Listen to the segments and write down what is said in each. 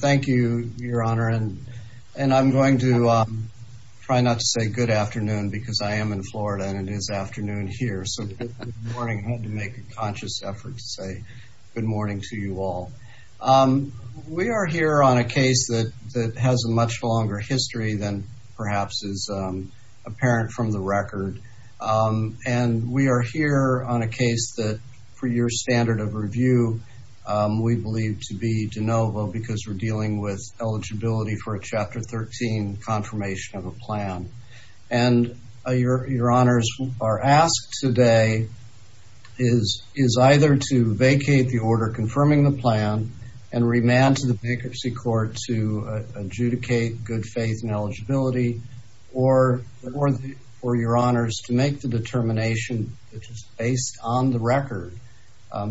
Thank you your honor and and I'm going to try not to say good afternoon because I am in Florida and it is afternoon here so I had to make a conscious effort to say good morning to you all. We are here on a case that that has a much longer history than perhaps is apparent from the record and we are here on a case that for your standard of review we believe to be de novo because we're dealing with eligibility for a chapter 13 confirmation of a plan. And your honors are asked today is is either to vacate the order confirming the plan and remand to the bankruptcy court to adjudicate good faith and eligibility or for your honors to make the determination which is based on the record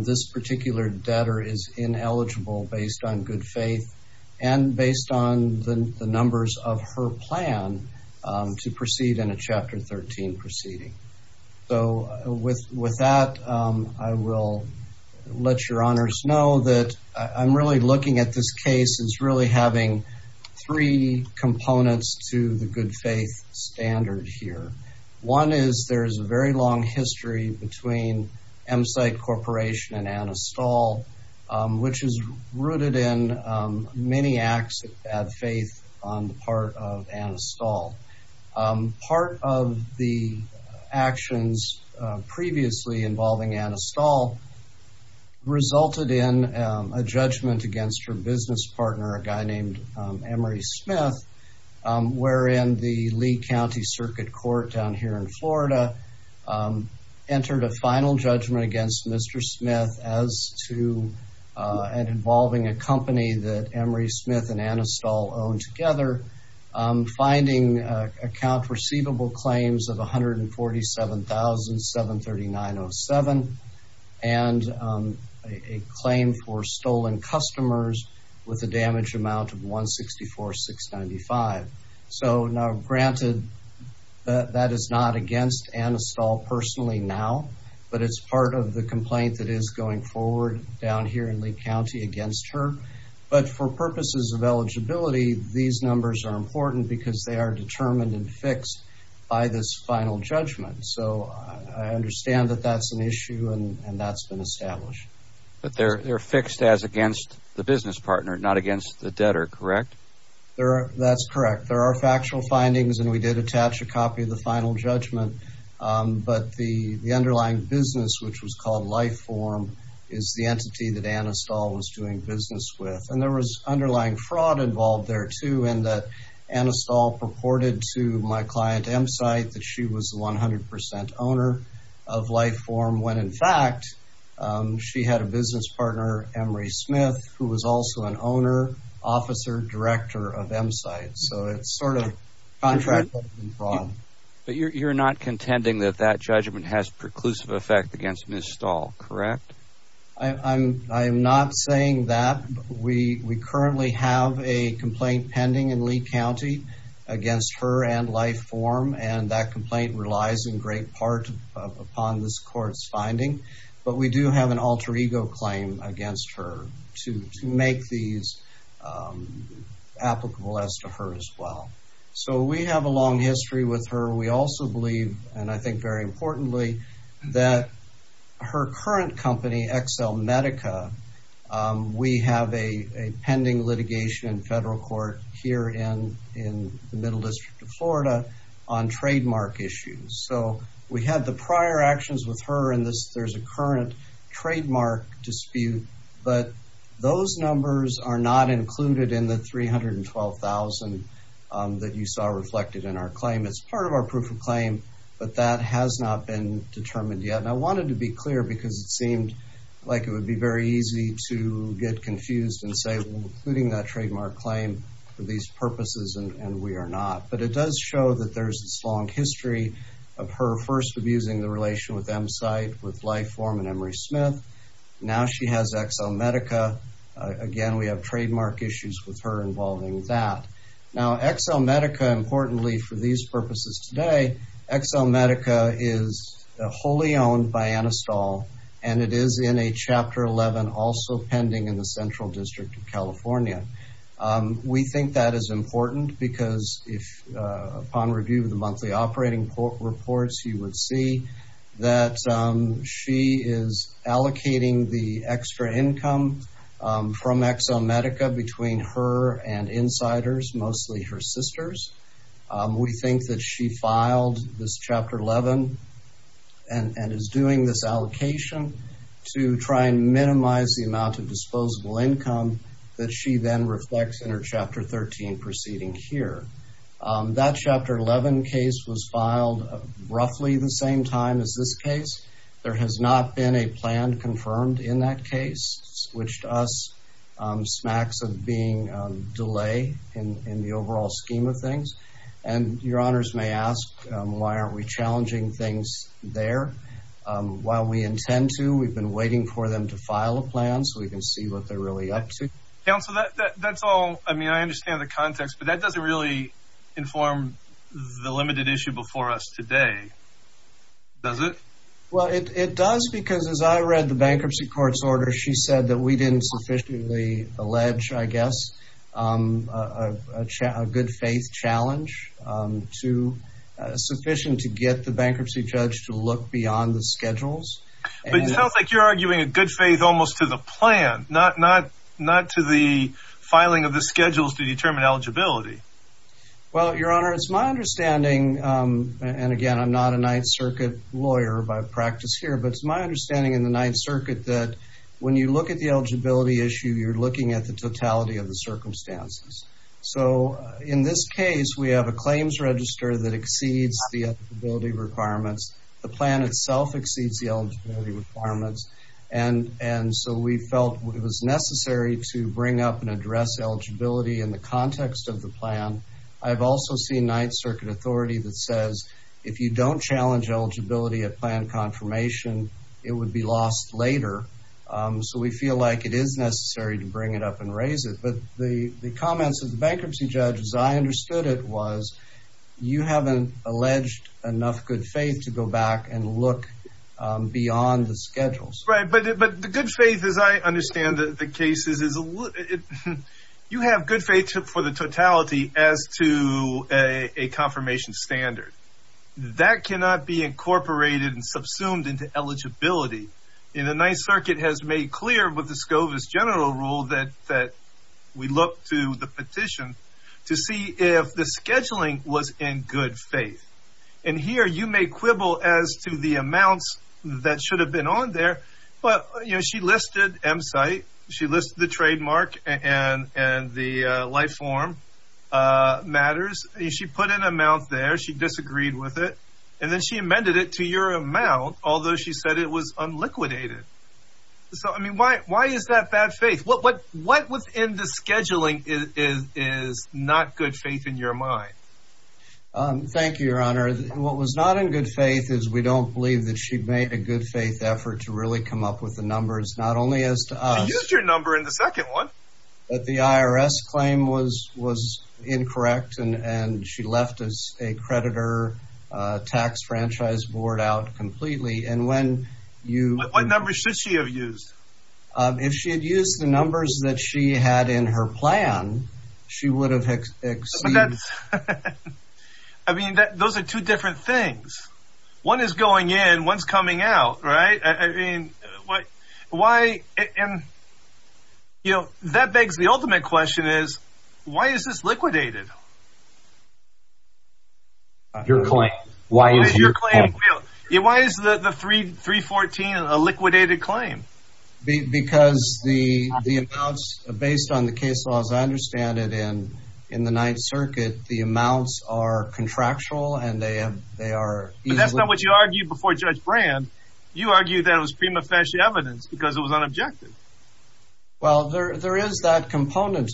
this particular debtor is ineligible based on good faith and based on the numbers of her plan to proceed in a chapter 13 proceeding. So with with that I will let your honors know that I'm really looking at this case is really having three components to the good faith standard here. One is there's a very long history between M-Site Corporation and Anna Stahl which is rooted in many acts of faith on the part of Anna Stahl. Part of the actions previously involving Anna Stahl resulted in a judgment against her business partner a guy named Emory Smith wherein the Lee County Circuit Court down here in Florida entered a final judgment against Mr. Smith as to and involving a company that Emory Smith and Anna Stahl own together finding account receivable claims of $147,739.07 and a claim for stolen customers with a damage amount of $164,695. So now granted that is not against Anna Stahl personally now but it's part of the complaint that is going forward down here in Lee County against her but for purposes of eligibility these numbers are important because they are determined and fixed by this final judgment so I understand that that's an issue and that's been established. But they're fixed as against the business partner not against the debtor correct? That's correct there are factual findings and we did attach a copy of the final judgment but the underlying business which was called Life Form is the entity that Anna Stahl was doing business with and there was underlying fraud involved there too in that Anna Stahl purported to my client M-Site that she was 100% owner of Life Form when in fact she had a business partner Emory Smith who was also an owner, officer, director of M-Site so it's sort of contract fraud. But you're not contending that that judgment has preclusive effect against Ms. Stahl correct? I'm not saying that we currently have a complaint pending in Lee County against her and Life Form and that complaint relies in great part upon this court's finding but we do have an alter ego claim against her to make these applicable as to her as well. So we have a long history with her we also believe and I think very importantly that her current company XL Medica we have a pending litigation in federal court here in in the Middle District of Florida on trademark issues so we had the prior actions with her in this there's a current trademark dispute but those numbers are not included in the 312,000 that you saw reflected in our claim but that has not been determined yet and I wanted to be clear because it seemed like it would be very easy to get confused and say including that trademark claim for these purposes and we are not but it does show that there's this long history of her first abusing the relation with M-Site with Life Form and Emory Smith now she has XL Medica again we have trademark issues with her involving that. Now XL Medica importantly for these purposes today XL Medica is wholly owned by Anastol and it is in a chapter 11 also pending in the Central District of California. We think that is important because if upon review of the monthly operating reports you would see that she is allocating the and insiders mostly her sisters we think that she filed this chapter 11 and is doing this allocation to try and minimize the amount of disposable income that she then reflects in her chapter 13 proceeding here. That chapter 11 case was filed roughly the same time as this case there has not been a plan confirmed in that case which to us smacks of being delay in the overall scheme of things and your honors may ask why aren't we challenging things there while we intend to we've been waiting for them to file a plan so we can see what they're really up to. Counselor that's all I mean I understand the context but that doesn't really inform the limited issue before us today does it? Well it does because as I read the bankruptcy court's order she said that we didn't sufficiently allege I guess a good-faith challenge to sufficient to get the bankruptcy judge to look beyond the schedules. But it sounds like you're arguing a good faith almost to the plan not to the filing of the schedules to determine eligibility. Well your honor it's my understanding and again I'm not a Ninth Circuit that when you look at the eligibility issue you're looking at the totality of the circumstances. So in this case we have a claims register that exceeds the eligibility requirements the plan itself exceeds the eligibility requirements and and so we felt it was necessary to bring up and address eligibility in the context of the plan. I've also seen Ninth Circuit authority that says if you don't challenge eligibility at plan confirmation it would be lost later. So we feel like it is necessary to bring it up and raise it but the the comments of the bankruptcy judge as I understood it was you haven't alleged enough good faith to go back and look beyond the schedules. Right but it but the good faith as I understand the cases is you have good faith for the totality as to a confirmation standard. That cannot be incorporated and eligibility in the Ninth Circuit has made clear with the Scovis general rule that that we look to the petition to see if the scheduling was in good faith. And here you may quibble as to the amounts that should have been on there but you know she listed M site she listed the trademark and and the life form matters she put an amount there she disagreed with it and then she amended it to your amount although she said it was unliquidated. So I mean why why is that bad faith? What what what was in the scheduling is is not good faith in your mind? Thank you your honor what was not in good faith is we don't believe that she'd made a good faith effort to really come up with the numbers not only as to use your number in the second one but the IRS claim was was incorrect and and she left as a creditor tax franchise board out completely and when you what number should she have used? If she had used the numbers that she had in her plan she would have exceeded. I mean that those are two different things one is going in one's coming out right I mean what why and you know that begs the your claim why is your claim yeah why is the the 3 314 a liquidated claim? Because the the accounts based on the case laws I understand it in in the Ninth Circuit the amounts are contractual and they have they are that's not what you argued before Judge Brand you argued that it was prima facie evidence because it was but there is that component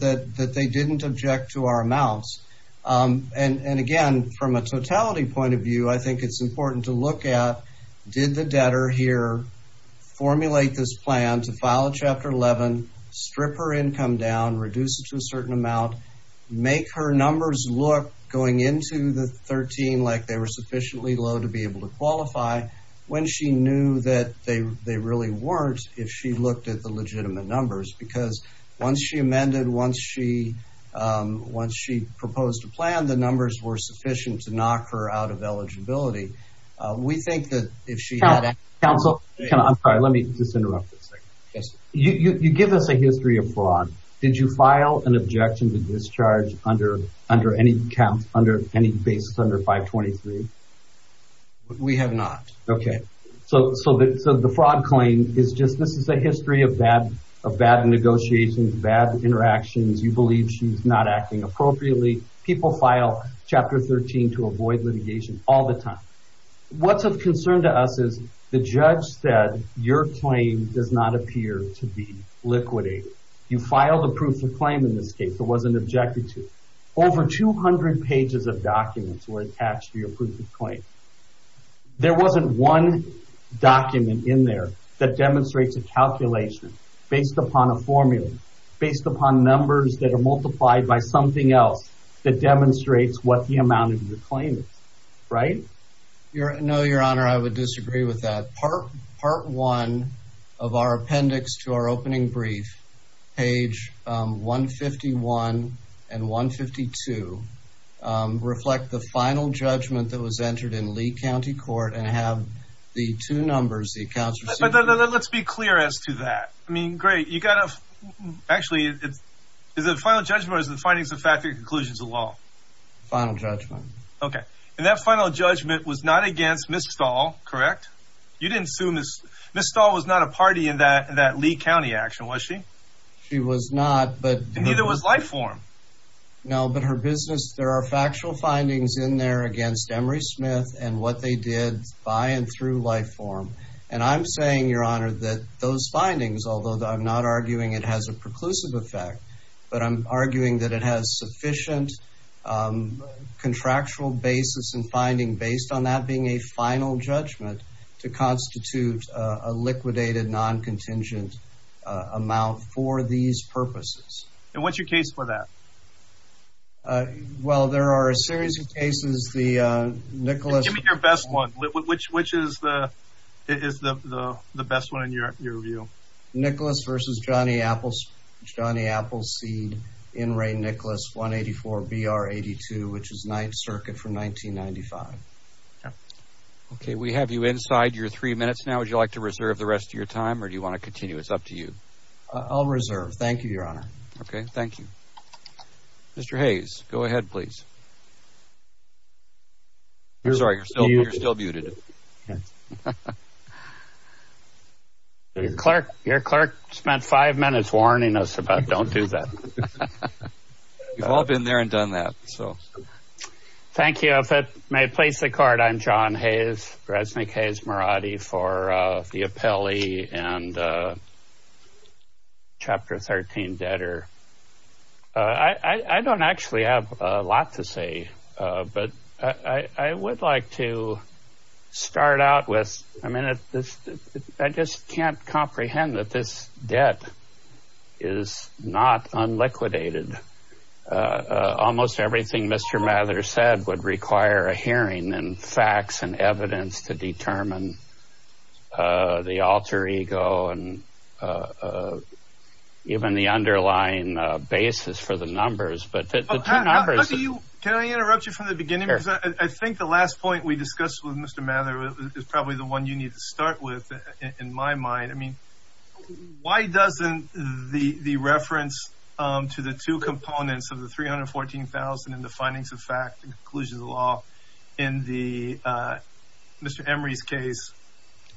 that that they didn't object to our amounts and and again from a totality point of view I think it's important to look at did the debtor here formulate this plan to file a chapter 11 strip her income down reduce it to a certain amount make her numbers look going into the 13 like they were sufficiently low to be able to qualify when she knew that they they really weren't if she looked at the legitimate numbers because once she amended once she once she proposed a plan the numbers were sufficient to knock her out of eligibility we think that if she had counsel can I'm sorry let me just interrupt this yes you give us a history of fraud did you file an objection to discharge under under any count under any basis under 523 we have not okay so so that so the fraud claim is just this is a history of bad of bad negotiations bad interactions you believe she's not acting appropriately people file chapter 13 to avoid litigation all the time what's of concern to us is the judge said your claim does not appear to be liquidate you filed a proof of claim in this case it wasn't objected to over 200 pages of wasn't one document in there that demonstrates a calculation based upon a formula based upon numbers that are multiplied by something else that demonstrates what the amount of your claim right you're no your honor I would disagree with that part part one of our appendix to our opening brief page 151 and 152 reflect the final judgment that was entered in Lee County Court and have the two numbers the accounts but let's be clear as to that I mean great you got a actually it's is it final judgment is the findings of factory conclusions of law final judgment okay and that final judgment was not against miss stall correct you didn't assume this miss stall was not a party in that that Lee County action was she she was not but neither was life form no but her business there are factual findings in there against Emory Smith and what they did by and through life form and I'm saying your honor that those findings although I'm not arguing it has a preclusive effect but I'm arguing that it has sufficient contractual basis and finding based on that being a final judgment to constitute a liquidated non-contingent amount for these purposes and what's your case for that well there are a series of cases the Nicholas your best one which which is the is the the best one in your view Nicholas versus Johnny Apples Johnny Appleseed in Ray Nicholas 184 BR 82 which is 9th Circuit from 1995 okay we have you inside your three minutes now would you like to reserve the rest of your time or do you want to continue it's up to you I'll reserve thank you your honor okay thank you mr. Hayes go ahead please you're sorry you're still you're still muted Clark your clerk spent five minutes warning us about don't do that we've all thank you if it may place the court I'm John Hayes Resnick Hayes Mirati for the appellee and chapter 13 debtor I I don't actually have a lot to say but I would like to start out with a minute I just can't unliquidated almost everything mr. Mather said would require a hearing and facts and evidence to determine the alter ego and even the underlying basis for the numbers but the numbers do you can I interrupt you from the beginning I think the last point we discussed with mr. Mather is probably the one you need start with in my mind I mean why doesn't the the reference to the two components of the three hundred fourteen thousand and the findings of fact inclusion of the law in the mr. Emory's case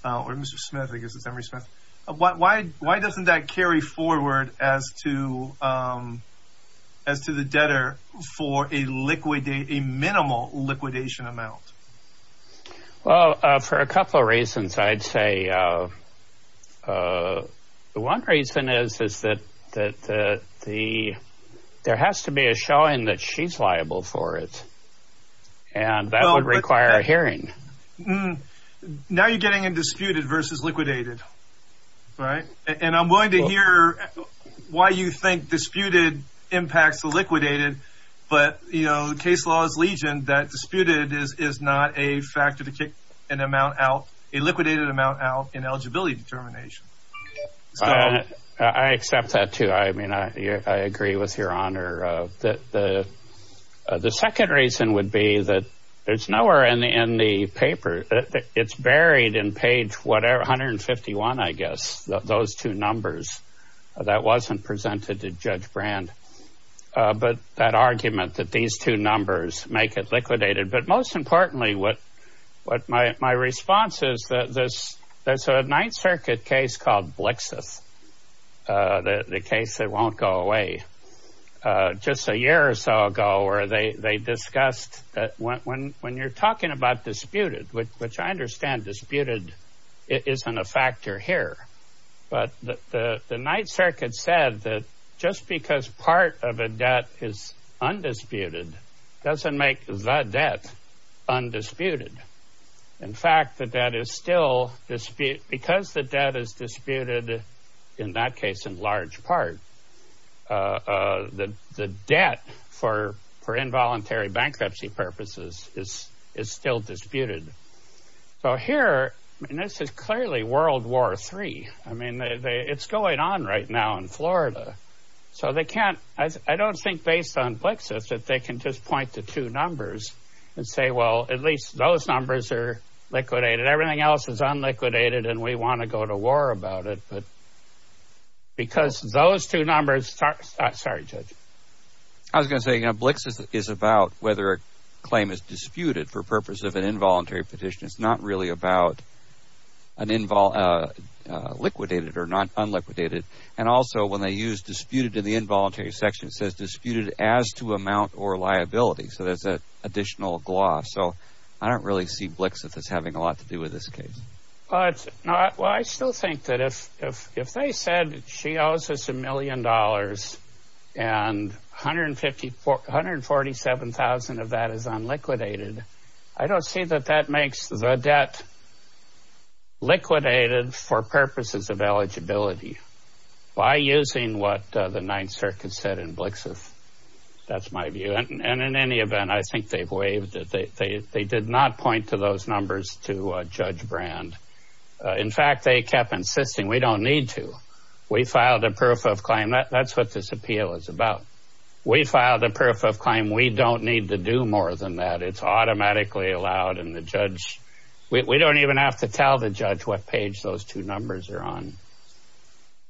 or mr. Smith I guess it's every Smith why why doesn't that carry forward as to as to the debtor for a liquid a minimal liquidation amount well for a couple of reasons I'd say one reason is is that that the there has to be a showing that she's liable for it and that would require a hearing mmm now you're getting in disputed versus liquidated right and I'm willing to hear why you think disputed impacts the liquidated but you know case laws legion that disputed is is not a factor to kick an amount out a liquidated amount out in eligibility determination I accept that too I mean I agree with your honor that the the second reason would be that there's nowhere in the in the paper that it's buried in page whatever hundred and fifty one I guess those two numbers that wasn't presented judge brand but that argument that these two numbers make it liquidated but most importantly what what my response is that this that's a Ninth Circuit case called blixus the case that won't go away just a year or so ago or they discussed that when when you're talking about disputed which I understand disputed it isn't a factor here but the the Ninth Circuit said that just because part of a debt is undisputed doesn't make the debt undisputed in fact that that is still dispute because the debt is disputed in that case in large part that the debt for for involuntary bankruptcy purposes is is still disputed so here and this is clearly World War three I mean it's going on right now in Florida so they can't I don't think based on blixus that they can just point to two numbers and say well at least those numbers are liquidated everything else is unliquidated and we want to go to war about it but because those two numbers are sorry judge I was gonna say blixus is about whether claim is disputed for purpose of an involuntary petition is not really about an involved liquidated or not unliquidated and also when they use disputed in the involuntary section says disputed as to amount or liability so there's a additional gloss so I don't really see blixus is having a lot to do with this case but I still think that if if if they said she owes us a million dollars and hundred fifty four hundred forty seven thousand of that is unliquidated I don't see that that makes the debt liquidated for purposes of eligibility by using what the Ninth Circuit said in blixus that's my view and in any event I think they've waived that they they did not point to those numbers to judge brand in fact they kept insisting we don't need to we filed a proof of claim that's what this appeal is about we filed a proof of claim we don't need to do more than that it's automatically allowed in the judge we don't even have to tell the judge what page those two numbers are on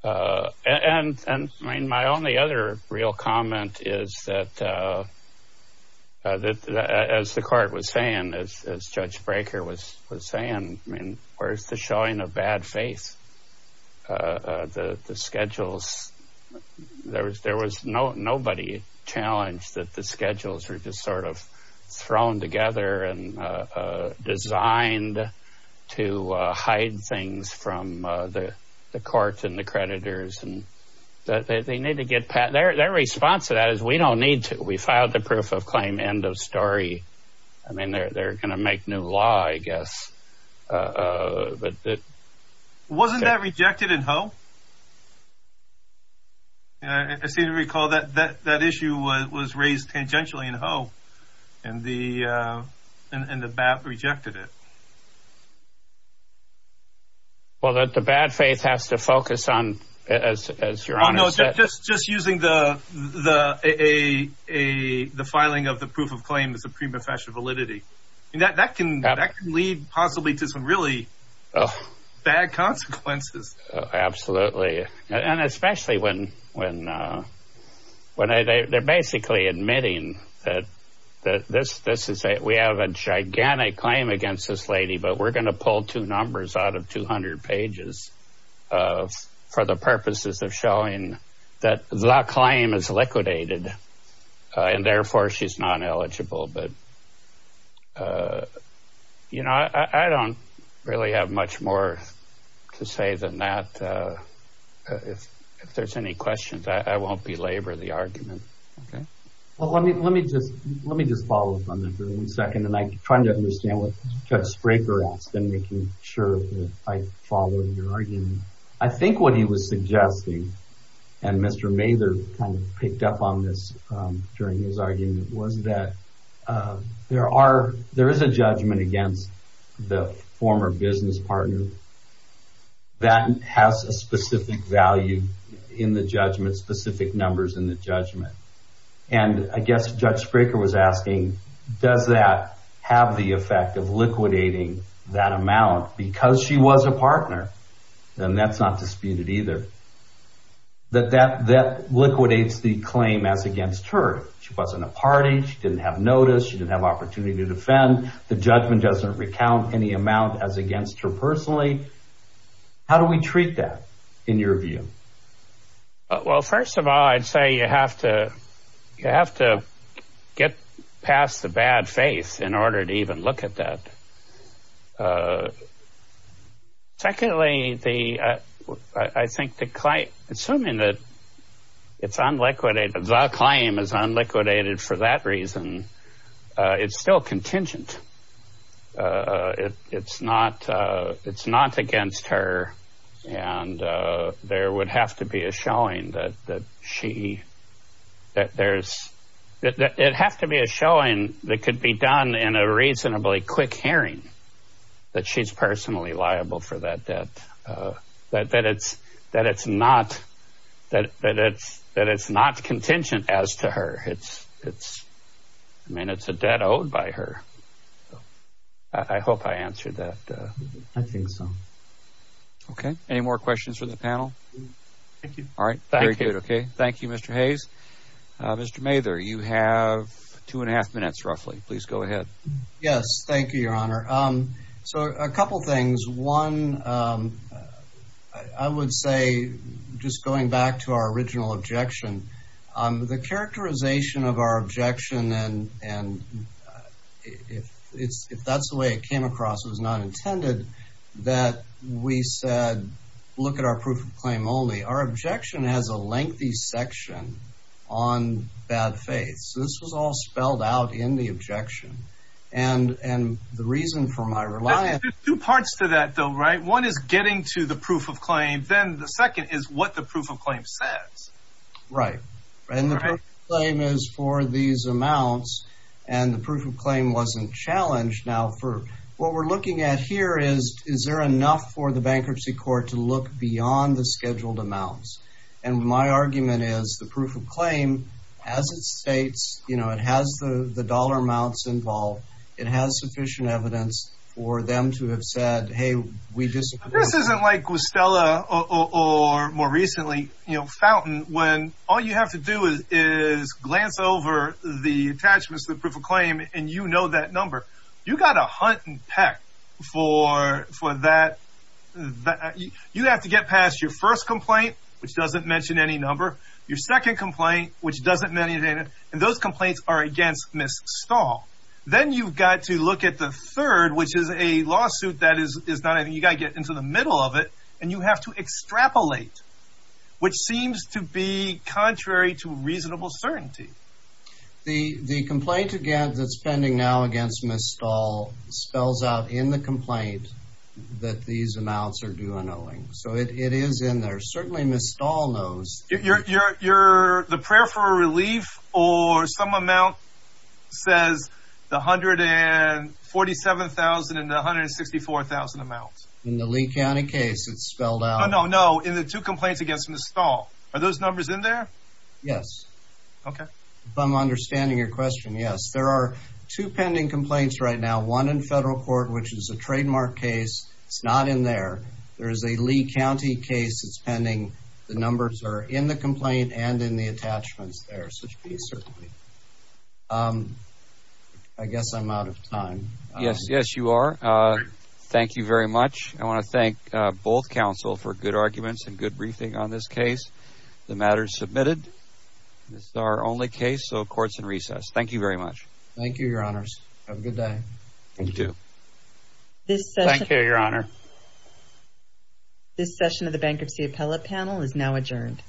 and my only other real comment is that as the court was saying as judge breaker was saying I mean where's the showing of bad faith the schedules there was there was no nobody challenged that the schedules were just sort of thrown together and designed to hide things from the courts and the creditors and that they need to get pat their their response to that is we don't need to we filed the proof of I guess but wasn't that rejected in hope I seem to recall that that that issue was raised tangentially in hope and the and the bat rejected it well that the bad faith has to focus on as you're honest just just using the the a a the filing of the proof of claim is a prima facie validity and that that can lead possibly to some really bad consequences absolutely and especially when when when I they're basically admitting that that this this is a we have a gigantic claim against this lady but we're gonna pull two numbers out of 200 pages of for the purposes of showing that the claim is liquidated and therefore she's not eligible but you know I I don't really have much more to say than that if there's any questions I won't belabor the argument okay well let me let me just let me just follow up on that for a second and I'm trying to understand what Judge Spraker has been making sure I follow your argument I think what he was suggesting and Mr. Mather kind of picked up on this during his argument was that there are there is a judgment against the former business partner that has a specific value in the judgment specific numbers in the judgment and I guess Judge Spraker was asking does that have the effect of liquidating that amount because she was a partner then that's not a party didn't have notice you didn't have opportunity to defend the judgment doesn't recount any amount as against her personally how do we treat that in your view well first of all I'd say you have to you have to get past the bad face in order to even look at that secondly the I think the claim assuming that it's unliquidated the claim is unliquidated for that reason it's still contingent it's not it's not against her and there would have to be a showing that that she that there's that it'd have to be a showing that could be done in a reasonably quick hearing that she's personally liable for that debt that it's that it's not that it's that it's not contingent as to her it's it's I mean it's a debt owed by her I hope I answered that I think so okay any more questions for the panel thank you all right thank you okay thank you mr. Hayes mr. Mather you have two and a half minutes roughly please go ahead yes thank you your honor um so a couple things one I would say just going back to our original objection the characterization of our objection and and if it's if that's the way it came across it was not intended that we said look at our proof of claim only our objection has a lengthy section on bad so this was all spelled out in the objection and and the reason for my reliance two parts to that though right one is getting to the proof of claim then the second is what the proof of claim says right and the claim is for these amounts and the proof of claim wasn't challenged now for what we're looking at here is is there enough for the bankruptcy court to look beyond the you know it has the the dollar amounts involved it has sufficient evidence for them to have said hey we just this isn't like with Stella or more recently you know fountain when all you have to do is glance over the attachments the proof of claim and you know that number you got a hunt and peck for for that you have to get past your first complaint which doesn't mention any number your second complaint which doesn't many data and those complaints are against miss stall then you've got to look at the third which is a lawsuit that is is not I think you gotta get into the middle of it and you have to extrapolate which seems to be contrary to reasonable certainty the the complaint again that's pending now against miss stall spells out in the complaint that these amounts are doing so it is in there certainly miss stall knows if you're you're the prayer for relief or some amount says the hundred and forty seven thousand and one hundred sixty four thousand amounts in the Lee County case it's spelled out no no no in the two complaints against miss stall are those numbers in there yes okay if I'm understanding your question yes there are two pending complaints right now one in federal court which is a trademark case it's not in there there is a Lee County case it's pending the numbers are in the complaint and in the attachments there such be certainly I guess I'm out of time yes yes you are thank you very much I want to thank both council for good arguments and good briefing on this case the matter submitted this is our only case so courts in recess thank you very much thank you your honors have a good day you do this thank you your honor this session of the bankruptcy appellate panel is now adjourned